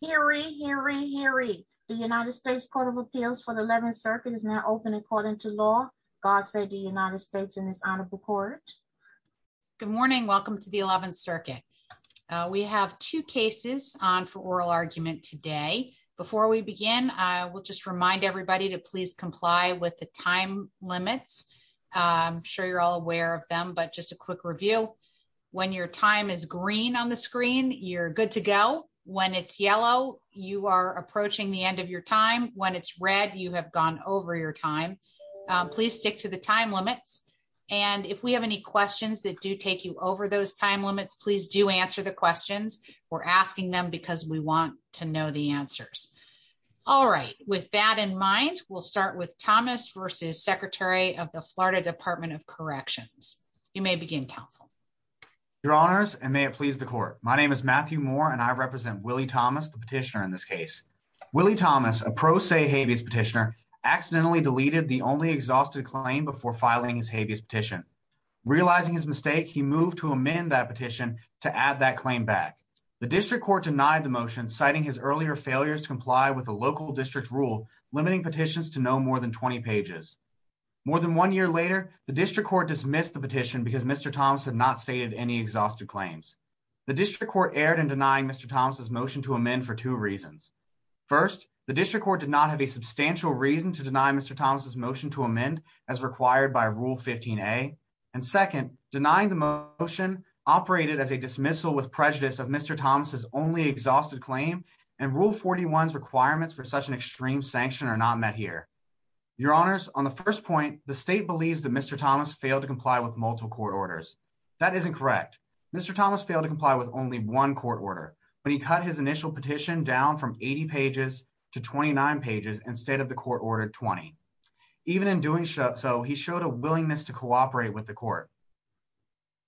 hearing hearing hearing the United States Court of Appeals for the 11th circuit is now open according to law. God save the United States in this honorable court. Good morning. Welcome to the 11th circuit. We have two cases on for oral argument today. Before we begin, I will just remind everybody to please comply with the time limits. I'm sure you're all aware of them. But review. When your time is green on the screen, you're good to go. When it's yellow, you are approaching the end of your time. When it's red, you have gone over your time. Please stick to the time limits. And if we have any questions that do take you over those time limits, please do answer the questions. We're asking them because we want to know the answers. All right. With that in mind, we'll start with Thomas versus Secretary of the Florida Department of Corrections. You may begin counsel your honors and may it please the court. My name is Matthew Moore and I represent Willie Thomas, the petitioner in this case, Willie Thomas, a pro se habeas petitioner, accidentally deleted the only exhausted claim before filing his habeas petition. Realizing his mistake, he moved to amend that petition to add that claim back. The district court denied the motion, citing his earlier failures to comply with the local district rule, limiting petitions to no more than 20 pages. More than one year later, the district court dismissed the petition because Mr. Thomas had not stated any exhausted claims. The district court erred in denying Mr. Thomas's motion to amend for two reasons. First, the district court did not have a substantial reason to deny Mr. Thomas's motion to amend as required by Rule 15 A. And second, denying the motion operated as a dismissal with prejudice of Mr. Thomas's only exhausted claim and Rule 41's requirements for such an extreme sanction are not met here. Your honors, on the first point, the state believes that Mr. Thomas failed to comply with multiple court orders. That isn't correct. Mr. Thomas failed to comply with only one court order when he cut his initial petition down from 80 pages to 29 pages instead of the court order 20. Even in doing so, he showed a willingness to cooperate with the court.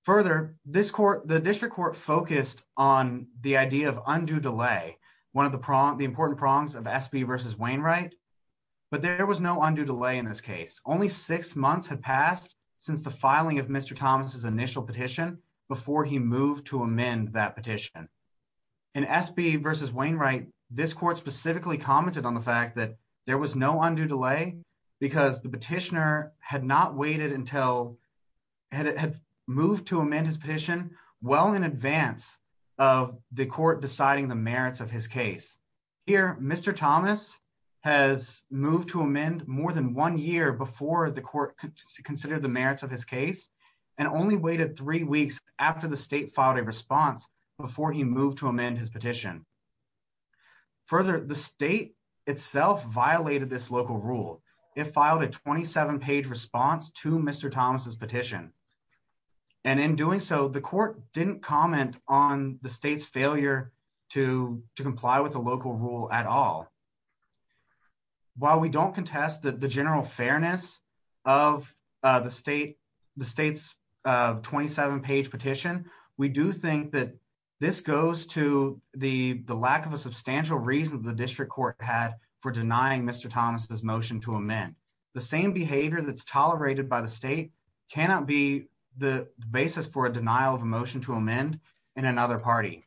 Further, this court, the district court focused on the idea of undue delay, one of the important prongs of SB versus Wainwright, but there was no delay in this case. Only six months had passed since the filing of Mr. Thomas's initial petition before he moved to amend that petition. In SB versus Wainwright, this court specifically commented on the fact that there was no undue delay because the petitioner had not waited until had moved to amend his petition well in advance of the court deciding the merits of his case. Here, Mr. Thomas has moved to amend more than one year before the court considered the merits of his case and only waited three weeks after the state filed a response before he moved to amend his petition. Further, the state itself violated this local rule. It filed a 27-page response to Mr. Thomas's petition, and in doing so, the court didn't comment on the state's failure to comply with the local rule at all. While we don't contest the general fairness of the state's 27-page petition, we do think that this goes to the lack of a substantial reason the district court had for denying Mr. Thomas's motion to amend. The same behavior that's tolerated by the state cannot be the basis for a denial of a motion to amend in another party.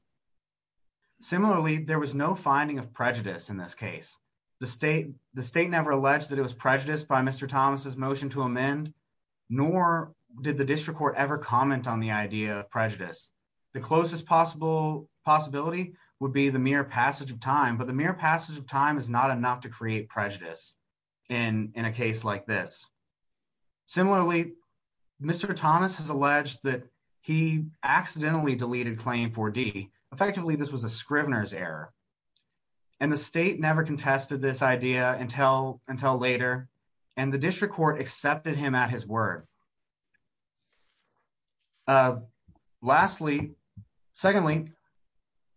Similarly, there was no finding of prejudice in this case. The state never alleged that it was prejudiced by Mr. Thomas's motion to amend, nor did the district court ever comment on the idea of prejudice. The closest possibility would be the mere passage of time, but the mere passage of time is not enough to create prejudice in a case like this. Similarly, Mr. Thomas has alleged that he accidentally deleted Claim 4D. Effectively, this was a Scrivener's error, and the state never contested this idea until later, and the district court accepted him at his word. Lastly, secondly,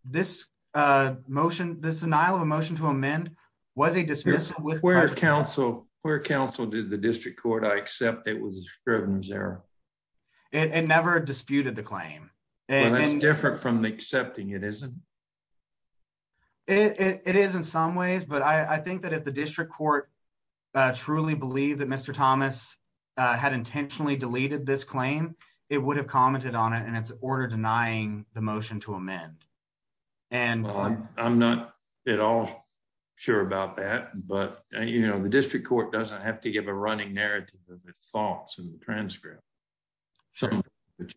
this motion, this denial of a motion to amend was a dismissal with- Where counsel, where counsel did the district court, I accept it was a Scrivener's error. It never disputed the claim. Well, that's different from the accepting, it isn't? It is in some ways, but I think that if the district court truly believed that Mr. Thomas had intentionally deleted this claim, it would have commented on it, and it's an order denying the motion to amend, and- Well, I'm not at all sure about that, but you know, the district court doesn't have to give a running narrative of the thoughts in the transcript. So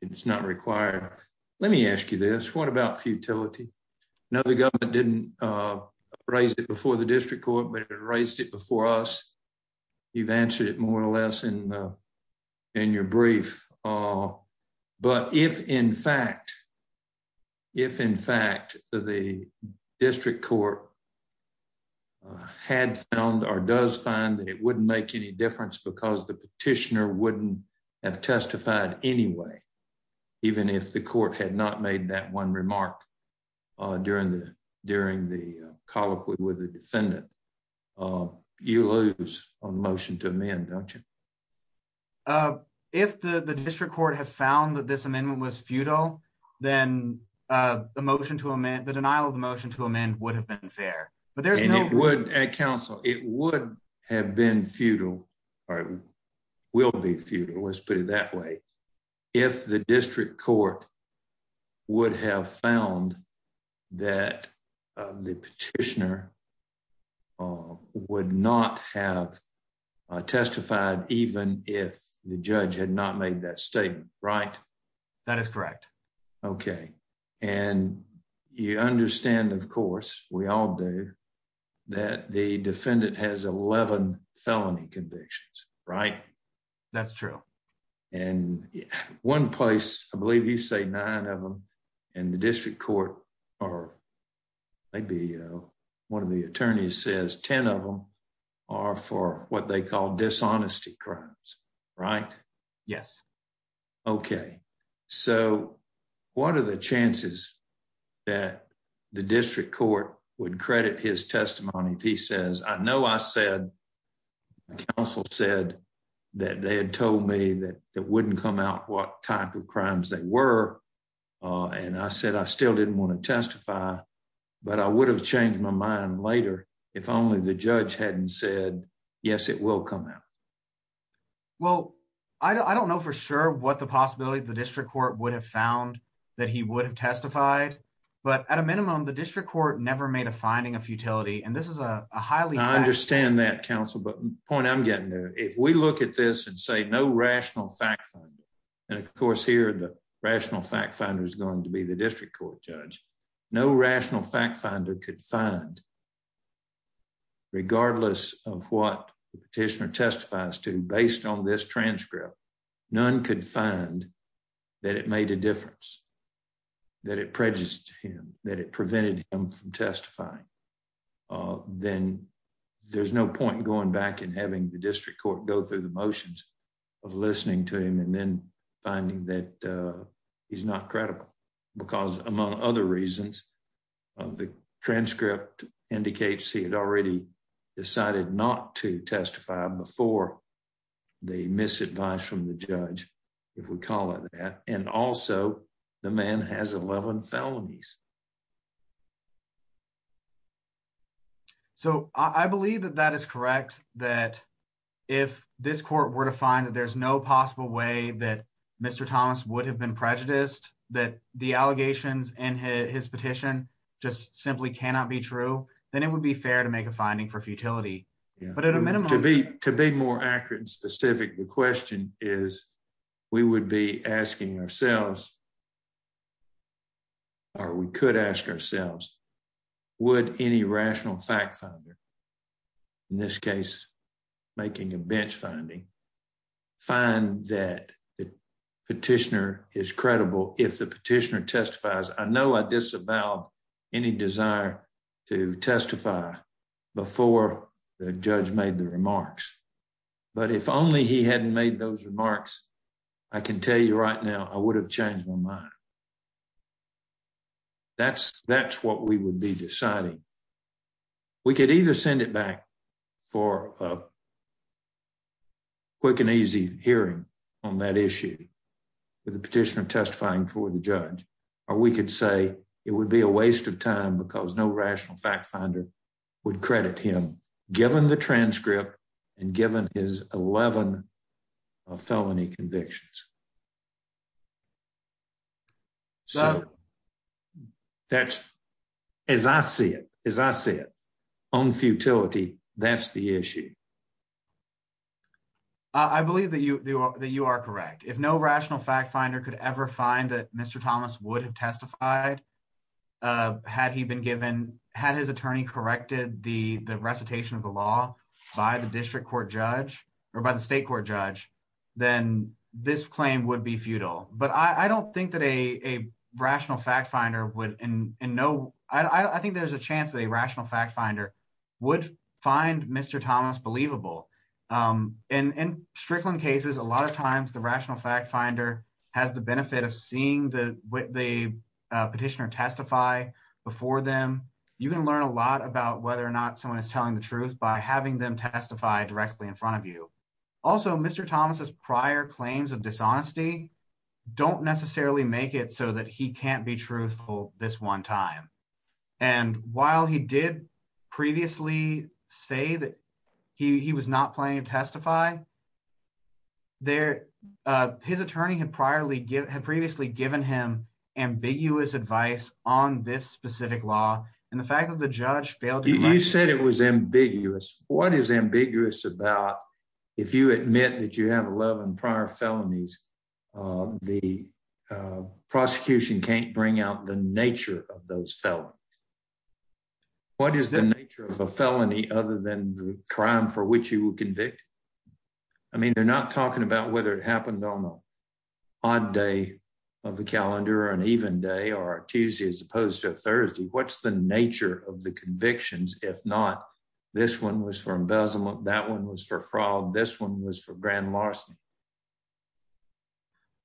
it's not required. Let me ask you this, what about futility? Now, the government didn't raise it before the district court, but it raised it before us. You've answered it more or less in your brief, but if in fact, if in fact the district court had found or does find that wouldn't make any difference because the petitioner wouldn't have testified anyway, even if the court had not made that one remark during the colloquy with the defendant, you lose on the motion to amend, don't you? If the district court had found that this amendment was futile, then the motion to amend, the denial of the motion to amend would have been fair, but there's no- And it would, and counsel, it would have been futile, or it will be futile, let's put it that way. If the district court would have found that the petitioner would not have testified, even if the judge had not made that statement, right? That is correct. Okay. And you understand, of course, we all do, that the defendant has 11 felony convictions, right? That's true. And one place, I believe you say nine of them in the district court, or maybe one of the attorneys says 10 of them are for what they call dishonesty crimes, right? Yes. Okay. So what are the chances that the district court would credit his testimony if he says, I know I said, counsel said that they had told me that it wouldn't come out what type of crimes they were, and I said I still didn't want to testify, but I would have changed my mind later if only the judge hadn't said, yes, it will come out. Well, I don't know for sure what the possibility the district court would have found that he would have testified, but at a minimum, the district court never made a finding of futility, and this is a highly- I understand that, counsel, but the point I'm getting there, if we look at this and say no rational fact finder, and of course here the rational fact finder is going to be the district court judge, no rational fact finder could find, regardless of what the petitioner testifies to based on this transcript, none could find that it made a difference, that it prejudiced him, that it prevented him from testifying, then there's no point going back and having the district court go through the motions of listening to him and then finding that he's not credible, because among other reasons, the transcript indicates he had already decided not to testify before the misadvice from the judge, if we call it that, and also the man has 11 felonies. So I believe that that is correct, that if this court were to find that there's no possible way that Mr. Thomas would have been prejudiced, that the allegations in his petition just simply cannot be true, then it would be fair to make a finding for futility, but at a minimum- To be more accurate and specific, the question is, we would be asking ourselves, or we could ask ourselves, would any rational fact finder, in this case making a bench finding, find that the petitioner is credible if the petitioner testifies? I know I disavowed any desire to testify before the judge made the remarks, but if only he hadn't made those remarks, I can tell you right now, I would have changed my mind. That's what we would be deciding. We could either send it back for quick and easy hearing on that issue with the petitioner testifying before the judge, or we could say it would be a waste of time because no rational fact finder would credit him given the transcript and given his 11 felony convictions. So that's, as I see it, as I see it, on futility, that's the issue. I believe that you are correct. If no rational fact finder could ever find that Mr. Thomas would have testified, had he been given, had his attorney corrected the recitation of the law by the district court judge or by the state court judge, then this claim would be futile. But I don't think that a rational fact finder would, and no, I think there's a chance that a rational fact finder would find Mr. Thomas believable. In Strickland cases, a lot of times the rational fact finder has the benefit of seeing the petitioner testify before them. You can learn a lot about whether or not someone is telling the truth by having them testify directly in front of you. Also, Mr. Thomas's prior claims of dishonesty don't necessarily make it so that he can't be this one time. And while he did previously say that he was not planning to testify, his attorney had previously given him ambiguous advice on this specific law, and the fact that the judge failed to- You said it was ambiguous. What is ambiguous about if you admit that you have 11 prior felonies, the prosecution can't bring out the nature of those felons? What is the nature of a felony other than the crime for which you will convict? I mean, they're not talking about whether it happened on an odd day of the calendar or an even day or a Tuesday as opposed to a Thursday. What's the nature of the convictions? If not, this one was for embezzlement, that one was for fraud, this one was for grand larceny.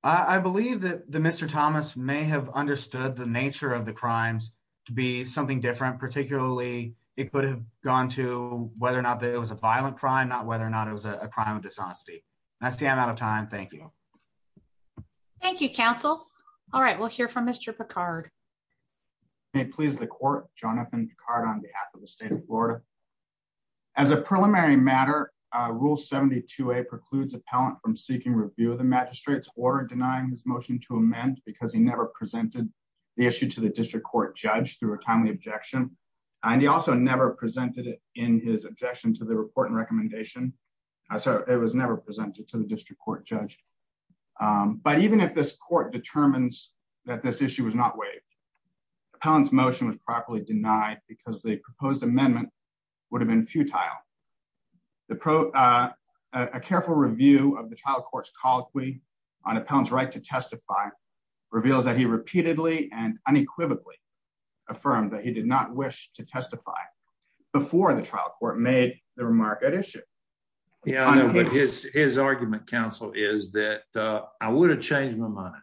I believe that Mr. Thomas may have understood the nature of the crimes to be something different, particularly it could have gone to whether or not it was a violent crime, not whether or not it was a crime of dishonesty. That's the amount of time. Thank you. Thank you, counsel. All right, we'll hear from Mr. Picard. May it please the court, Jonathan Picard on behalf of the state of Florida. As a preliminary matter, rule 72A precludes appellant from seeking review of the magistrate's order denying his motion to amend because he never presented the issue to the district court judge through a timely objection. And he also never presented it in his objection to the report and recommendation. So it was never presented to the district court judge. But even if this court determines that this issue was not waived, appellant's motion was properly denied because the proposed amendment would have been futile. A careful review of the trial court's colloquy on appellant's right to testify reveals that he repeatedly and unequivocally affirmed that he did not wish to testify before the trial court made the remark at issue. Yeah, I know, but his argument, counsel, is that I would have changed my mind.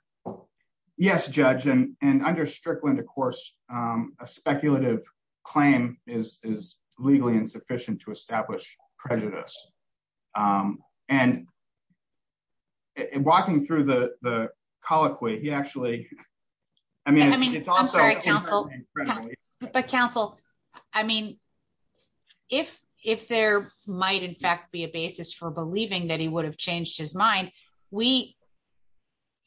Yes, judge, and under Strickland, of course, a speculative claim is legally insufficient to establish prejudice. And walking through the colloquy, he actually, I mean, it's also- I'm sorry, counsel, but counsel, I mean, if there might in fact be a basis for believing that he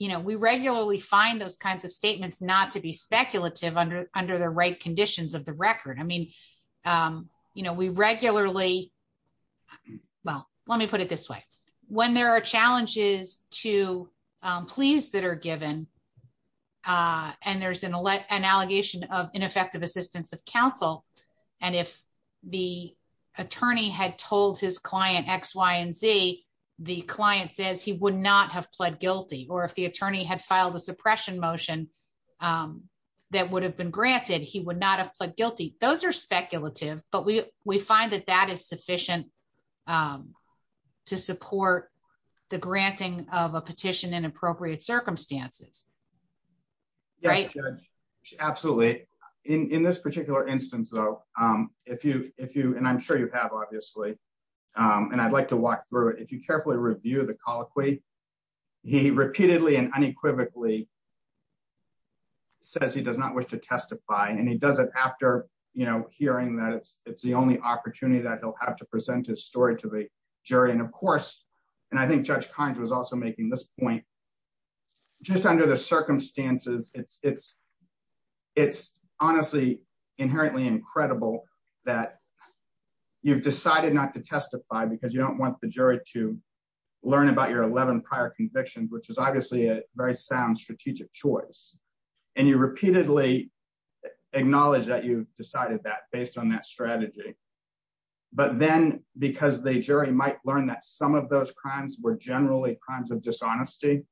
we regularly find those kinds of statements not to be speculative under the right conditions of the record. I mean, we regularly, well, let me put it this way. When there are challenges to pleas that are given, and there's an allegation of ineffective assistance of counsel, and if the attorney had told his client X, Y, and Z, the client says he would not have pled guilty, or if the attorney had filed a suppression motion that would have been granted, he would not have pled guilty. Those are speculative, but we find that that is sufficient to support the granting of a petition in appropriate circumstances. Yes, judge, absolutely. In this particular instance, though, if you- and I'm sure you have, obviously, and I'd like to walk through it, if you carefully review the colloquy, he repeatedly and unequivocally says he does not wish to testify, and he does it after, you know, hearing that it's the only opportunity that he'll have to present his story to the jury. And of course, and I think Judge Kines was also making this point, just under the circumstances, it's honestly inherently incredible that you've decided not to testify because you don't want the jury to learn about your 11 prior convictions, which is obviously a very sound strategic choice, and you repeatedly acknowledge that you've decided that based on that strategy, but then because the jury might learn that some of those crimes were generally crimes of dishonesty,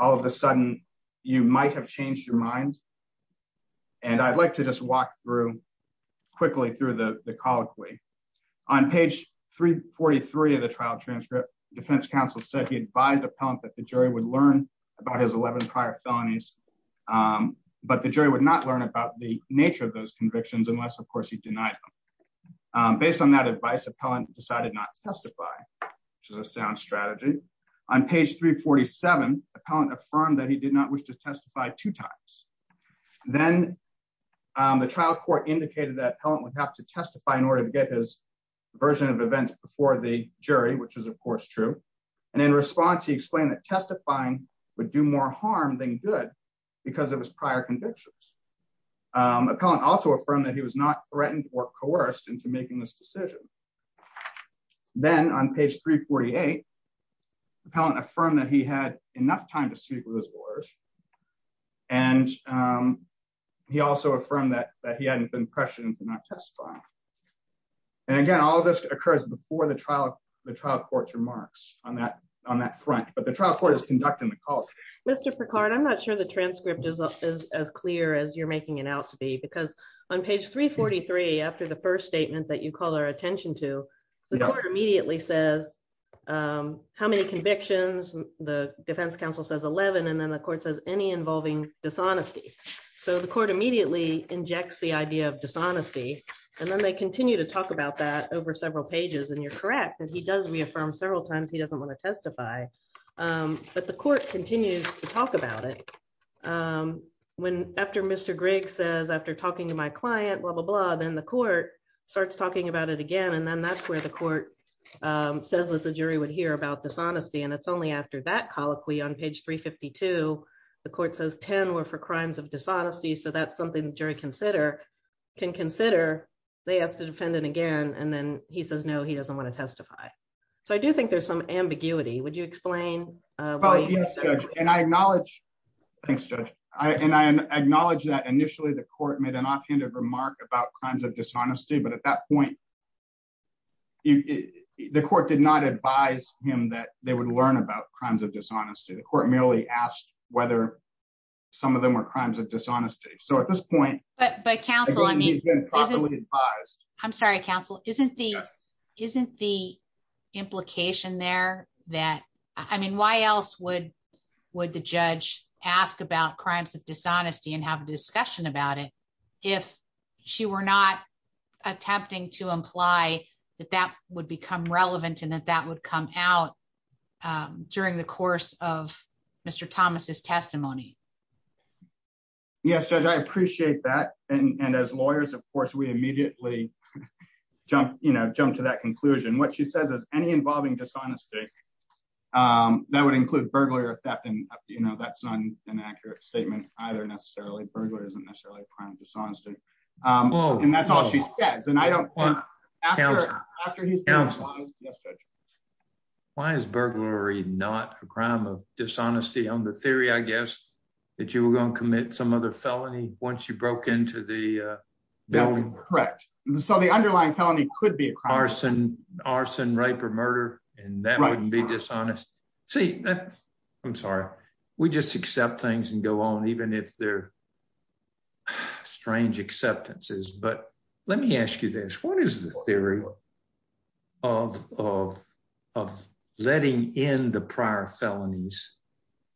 all of a sudden you might change your mind, and I'd like to just walk through quickly through the colloquy. On page 343 of the trial transcript, defense counsel said he advised the appellant that the jury would learn about his 11 prior felonies, but the jury would not learn about the nature of those convictions unless, of course, he denied them. Based on that advice, appellant decided not to testify, which is a sound strategy. On page 347, appellant affirmed that he did not wish to testify two times. Then the trial court indicated that appellant would have to testify in order to get his version of events before the jury, which is of course true, and in response he explained that testifying would do more harm than good because it was prior convictions. Appellant also affirmed that he was not threatened or coerced into making this decision. Then on page 348, appellant affirmed that he had enough time to speak with his lawyers, and he also affirmed that he hadn't been pressured into not testifying. And again, all this occurs before the trial court's remarks on that front, but the trial court is conducting the call. Mr. Picard, I'm not sure the transcript is as clear as you're making it out to be because on page 343, after the first statement that you call our attention to, the court immediately says how many convictions, the defense counsel says 11, and then the court says any involving dishonesty. So the court immediately injects the idea of dishonesty, and then they continue to talk about that over several pages, and you're correct that he does reaffirm several times he doesn't want to testify, but the court continues to talk about it. After Mr. Grigg says, after talking to my client, blah, blah, blah, then the court starts talking about it again, and then that's where the court says that the jury would hear about dishonesty, and it's only after that colloquy on page 352, the court says 10 were for crimes of dishonesty, so that's something the jury can consider. They ask the defendant again, and then he says, no, he doesn't want to testify. So I do think there's some ambiguity. Would you explain? Well, yes, Judge, and I acknowledge... Thanks, Judge. And I acknowledge that initially the court made an offhanded remark about crimes of dishonesty, but at that point, the court did not advise him that they would learn about crimes of dishonesty. The court merely asked whether some of them were crimes of dishonesty. So at this point... But counsel, I'm sorry, counsel, isn't the implication there that, I mean, why else would the judge ask about it if she were not attempting to imply that that would become relevant and that that would come out during the course of Mr. Thomas's testimony? Yes, Judge, I appreciate that, and as lawyers, of course, we immediately jump to that conclusion. What she says is any involving dishonesty, that would include burglary or theft, and that's not an accurate statement either necessarily. Burglary isn't necessarily a crime of dishonesty, and that's all she says, and I don't think... Why is burglary not a crime of dishonesty on the theory, I guess, that you were going to commit some other felony once you broke into the building? Correct. So the underlying felony could be a crime. Arson, rape, or murder, and that wouldn't be dishonest. See, I'm sorry. We just accept things and go on even if they're strange acceptances, but let me ask you this. What is the theory of letting in the prior felonies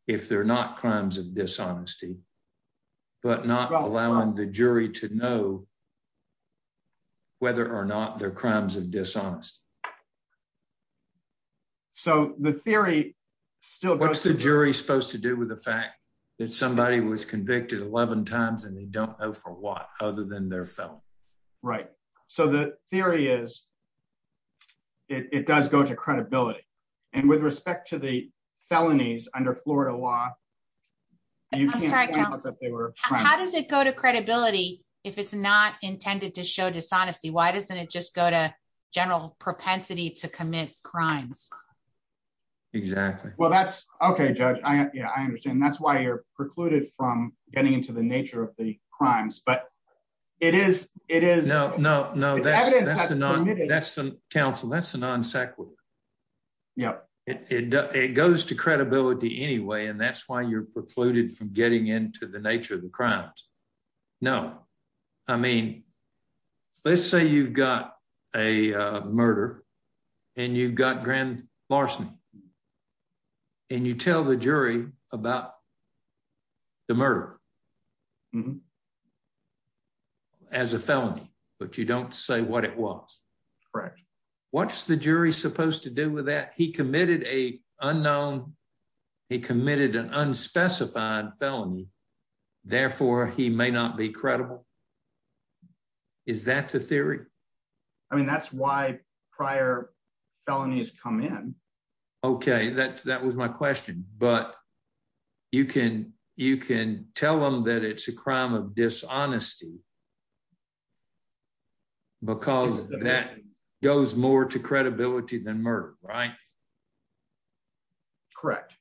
if they're not crimes of dishonesty, but not allowing the jury to know whether or not they're crimes of dishonesty? So the theory still... What's the jury supposed to do with the fact that somebody was convicted 11 times and they don't know for what other than they're felony? Right, so the theory is it does go to credibility, and with respect to the felonies under Florida law, you can't say that they were... How does it go to credibility if it's not intended to show propensity to commit crimes? Exactly. Well, that's... Okay, Judge. Yeah, I understand. That's why you're precluded from getting into the nature of the crimes, but it is... No, no, no. That's the counsel. That's the non sequitur. Yeah. It goes to credibility anyway, and that's why you're precluded from getting into the nature of the crimes. No. I mean, let's say you've got a murder, and you've got grand larceny, and you tell the jury about the murder as a felony, but you don't say what it was. Correct. What's the jury supposed to do with that? He committed a unknown... He committed an unspecified felony. Therefore, he may not be I mean, that's why prior felonies come in. Okay. That was my question, but you can tell them that it's a crime of dishonesty because that goes more to credibility than murder, right? Correct.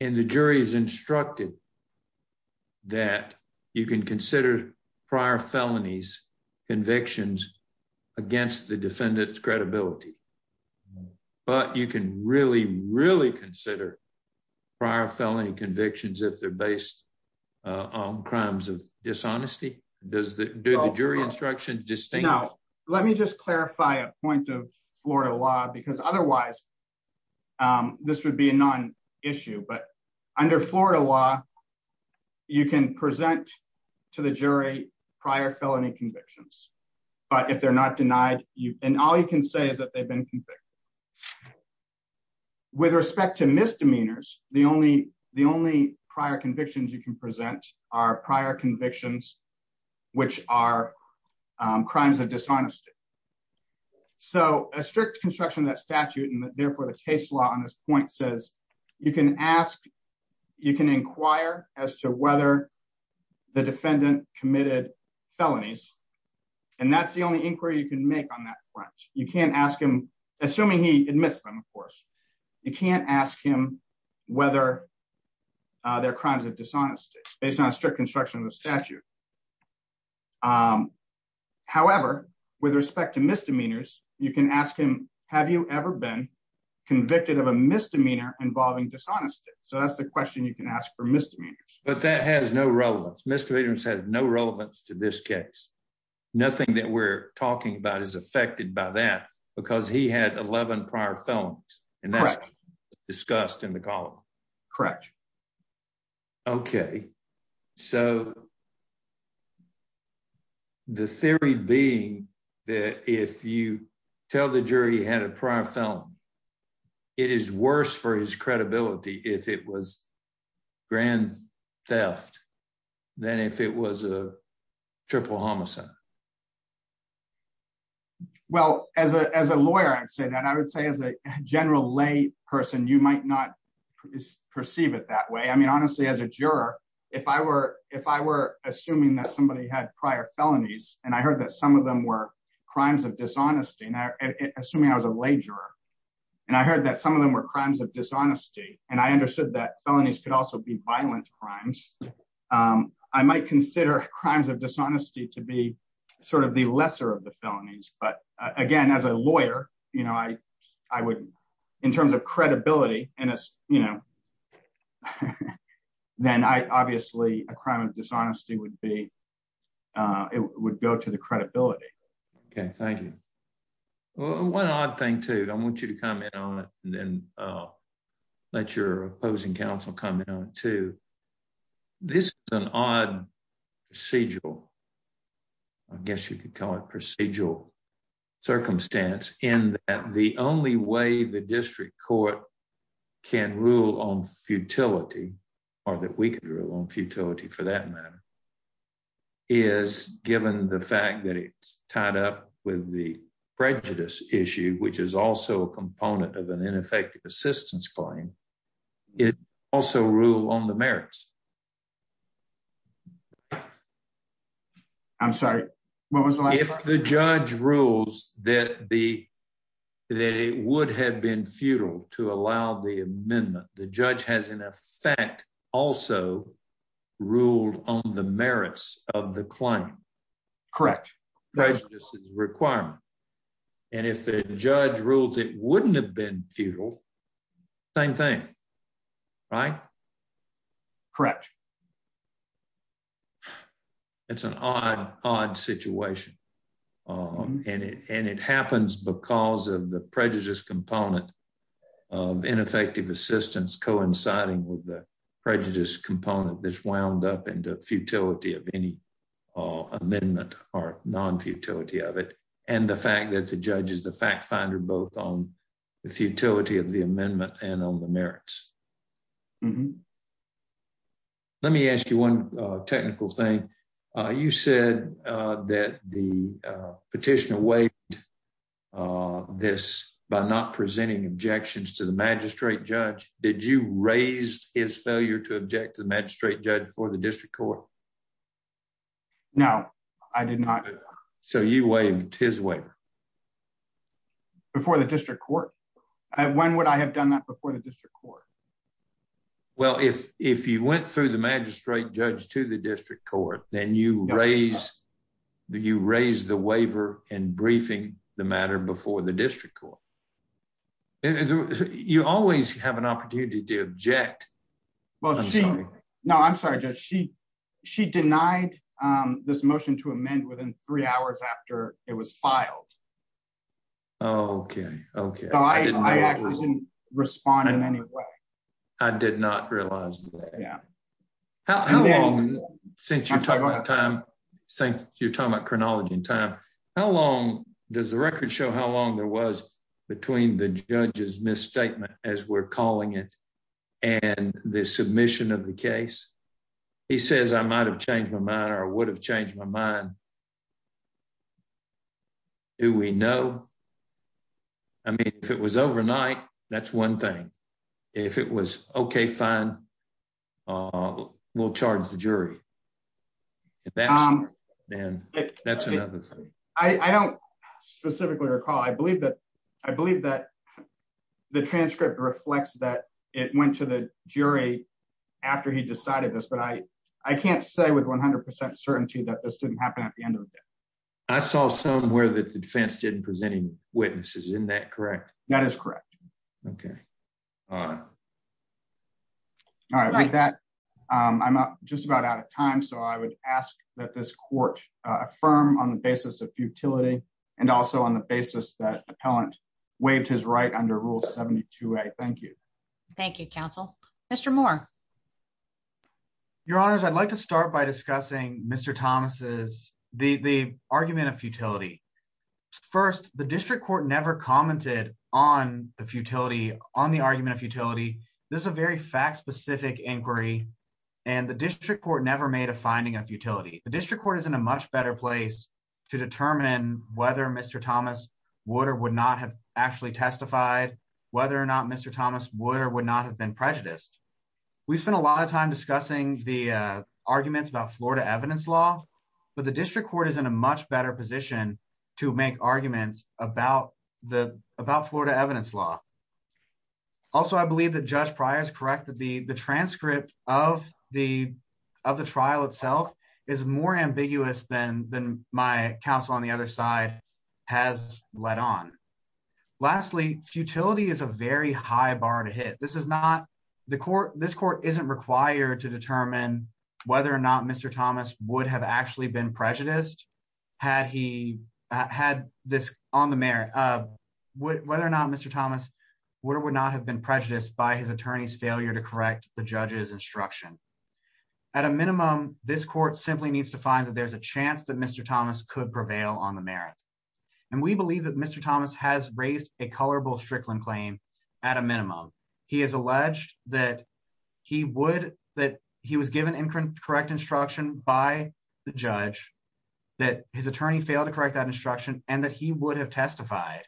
And the jury is instructed that you can consider prior felonies convictions against the defendant's credibility, but you can really, really consider prior felony convictions if they're based on crimes of dishonesty. Do the jury instructions distinguish? No. Let me just clarify a point of Florida law because otherwise, this would be a non-issue, but under Florida law, you can present to the jury prior felony convictions, but if they're not denied, and all you can say is that they've been convicted. With respect to misdemeanors, the only prior convictions you can present are prior convictions, which are crimes of dishonesty. So a strict construction of that statute, and therefore, the case law on this point says you can ask, you can inquire as to whether the defendant committed felonies, and that's the only inquiry you can make on that front. You can't ask him, assuming he admits them, of course, you can't ask him whether they're crimes of dishonesty based on a strict construction of the statute. However, with respect to misdemeanors, you can ask him, have you ever been convicted of a misdemeanor involving dishonesty? So that's question you can ask for misdemeanors. But that has no relevance. Misdemeanors has no relevance to this case. Nothing that we're talking about is affected by that because he had 11 prior felonies, and that's discussed in the column. Correct. Okay. So the theory being that if you tell the jury he had a prior felony, it is worse for his credibility if it was grand theft than if it was a triple homicide. Well, as a lawyer, I'd say that I would say as a general lay person, you might not perceive it that way. I mean, honestly, as a juror, if I were assuming that somebody had prior felonies, and I heard that some of them were crimes of dishonesty, and assuming I was a lay juror, and I heard that some of them were crimes of dishonesty, and I understood that felonies could also be violent crimes, I might consider crimes of dishonesty to be sort of the lesser of the felonies. But again, as a lawyer, in terms of credibility, then obviously a crime of dishonesty would go to the credibility. Okay, thank you. One odd thing too, I want you to comment on it, and then let your opposing counsel comment on it too. This is an odd procedural, I guess you could call it procedural, circumstance in that the only way the district court can rule on futility, or that we can rule on futility for that matter, is given the fact that it's tied up with the prejudice issue, which is also a component of an ineffective assistance claim, it also rule on the merits. I'm sorry, what was the last part? If the judge rules that it would have been futile to allow the amendment, the judge has in effect also ruled on the merits of the claim. Correct. Prejudice is a requirement, and if the judge rules it wouldn't have been futile, same thing, right? Correct. It's an odd situation, and it happens because of the prejudice component of ineffective assistance coinciding with the prejudice component that's wound up into futility of any amendment or non-futility of it, and the fact that the judge is the fact finder both on the futility of the amendment and on the merits. Let me ask you one technical thing. You said that the petitioner waived this by not presenting objections to the magistrate judge. Did you raise his failure to object to the magistrate judge before the district court? No, I did not. So you waived his waiver? Before the district court? When would I have done that before the district court? Well, if you went through the magistrate judge to the district court, then you raised the waiver in briefing the matter before the district court. You always have an opportunity to object. I'm sorry. No, I'm sorry, Judge. She denied this motion to amend within three hours after it was filed. Okay, okay. I actually didn't respond in any way. I did not realize that. Yeah. How long, since you're talking about chronology and time, does the record show how long there was between the judge's misstatement, as we're calling it, and the submission of the case? He says, I might have changed my mind or would have changed my mind. Do we know? I mean, if it was overnight, that's one thing. If it was okay, fine, we'll charge the jury. That's another thing. I don't specifically recall. I believe that the transcript reflects that it went to the jury after he decided this, but I can't say 100% certainty that this didn't happen at the end of the day. I saw somewhere that the defense didn't present any witnesses. Isn't that correct? That is correct. Okay. All right, with that, I'm just about out of time, so I would ask that this court affirm on the basis of futility and also on the basis that the appellant waived his right under Rule 72a. Thank you. Thank you, counsel. Mr. Moore. Your honors, I'd like to start by discussing Mr. Thomas's, the argument of futility. First, the district court never commented on the argument of futility. This is a very fact-specific inquiry, and the district court never made a finding of futility. The district court is in a much better place to determine whether Mr. Thomas would or would not have actually testified, whether or not Mr. Thomas would or would not have been prejudiced. We've spent a lot of time discussing the arguments about Florida evidence law, but the district court is in a much better position to make arguments about Florida evidence law. Also, I believe that Judge Pryor is correct that the transcript of the trial itself is more Lastly, futility is a very high bar to hit. This is not, the court, this court isn't required to determine whether or not Mr. Thomas would have actually been prejudiced had he had this on the merit of whether or not Mr. Thomas would or would not have been prejudiced by his attorney's failure to correct the judge's instruction. At a minimum, this court simply needs to find that there's a Mr. Thomas has raised a colorable Strickland claim at a minimum. He has alleged that he would, that he was given incorrect instruction by the judge, that his attorney failed to correct that instruction, and that he would have testified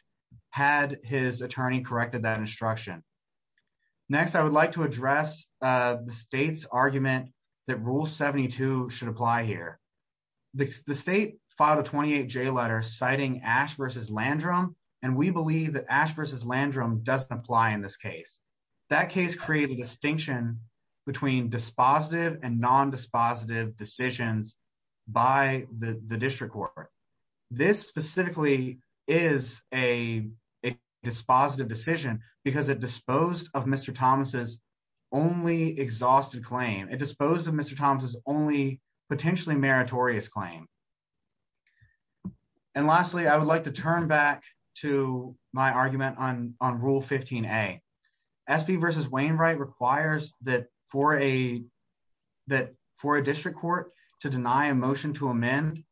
had his attorney corrected that instruction. Next, I would like to address the state's argument that Rule 72 should apply here. The state filed a 28-J letter citing Ash v. Landrum, and we believe that Ash v. Landrum doesn't apply in this case. That case created a distinction between dispositive and non-dispositive decisions by the district court. This specifically is a dispositive decision because it disposed of a non-dispositive claim. Lastly, I would like to turn back to my argument on Rule 15a. SB v. Wainwright requires that for a district court to deny a motion to amend,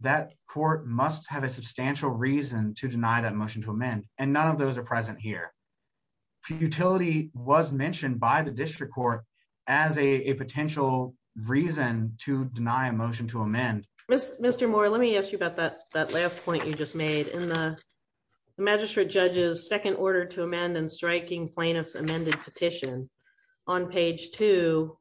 that court must have a substantial reason to deny that motion to amend, and none of those are present here. Futility was mentioned by the district court as a potential reason to deny a motion to amend. Mr. Moore, let me ask you about that last point you just made. In the magistrate judge's second order to amend and striking plaintiff's amended petition, on page two,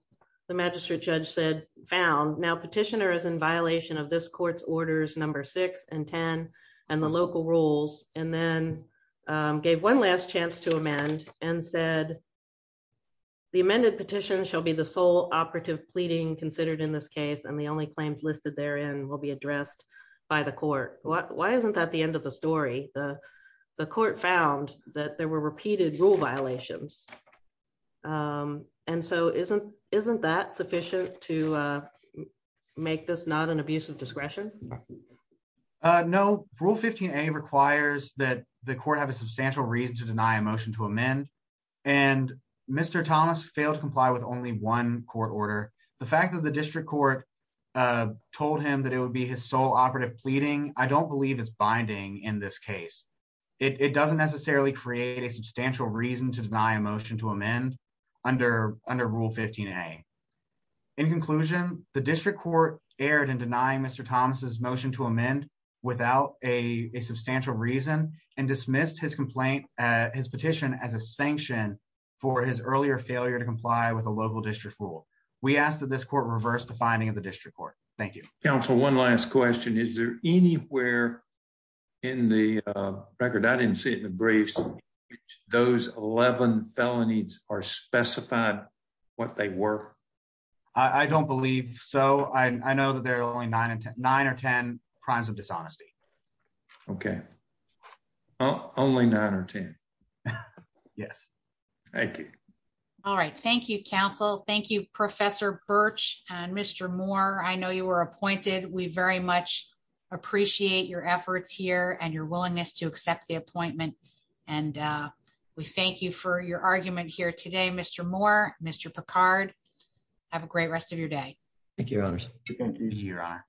the magistrate judge said, found, now petitioner is in violation of this court's orders number six and ten and the local rules, and then gave one last chance to amend and said, the amended petition shall be the sole operative pleading considered in this case, and the only claims listed therein will be addressed by the court. Why isn't that the end of the story? The court found that there were repeated rule violations, and so isn't that sufficient to make this not an abuse of discretion? No. Rule 15a requires that the court have a substantial reason to deny a motion to amend, and Mr. Thomas failed to comply with one court order. The fact that the district court told him that it would be his sole operative pleading, I don't believe is binding in this case. It doesn't necessarily create a substantial reason to deny a motion to amend under rule 15a. In conclusion, the district court erred in denying Mr. Thomas' motion to amend without a substantial reason and dismissed his petition as a sanction for his earlier failure to comply with a local district rule. We ask that this court reverse the finding of the district court. Thank you. Counsel, one last question. Is there anywhere in the record, I didn't see it in the briefs, those 11 felonies are specified what they were? I don't believe so. I know that there are only nine or ten crimes of dishonesty. Okay. Only nine or ten. Yes. Thank you. All right. Thank you, counsel. Thank you, Professor Birch and Mr. Moore. I know you were appointed. We very much appreciate your efforts here and your willingness to accept the appointment. And we thank you for your argument here today, Mr. Moore, Mr. Picard. Have a great rest of your day. Thank you, Your Honor. Thank you, Your Honor.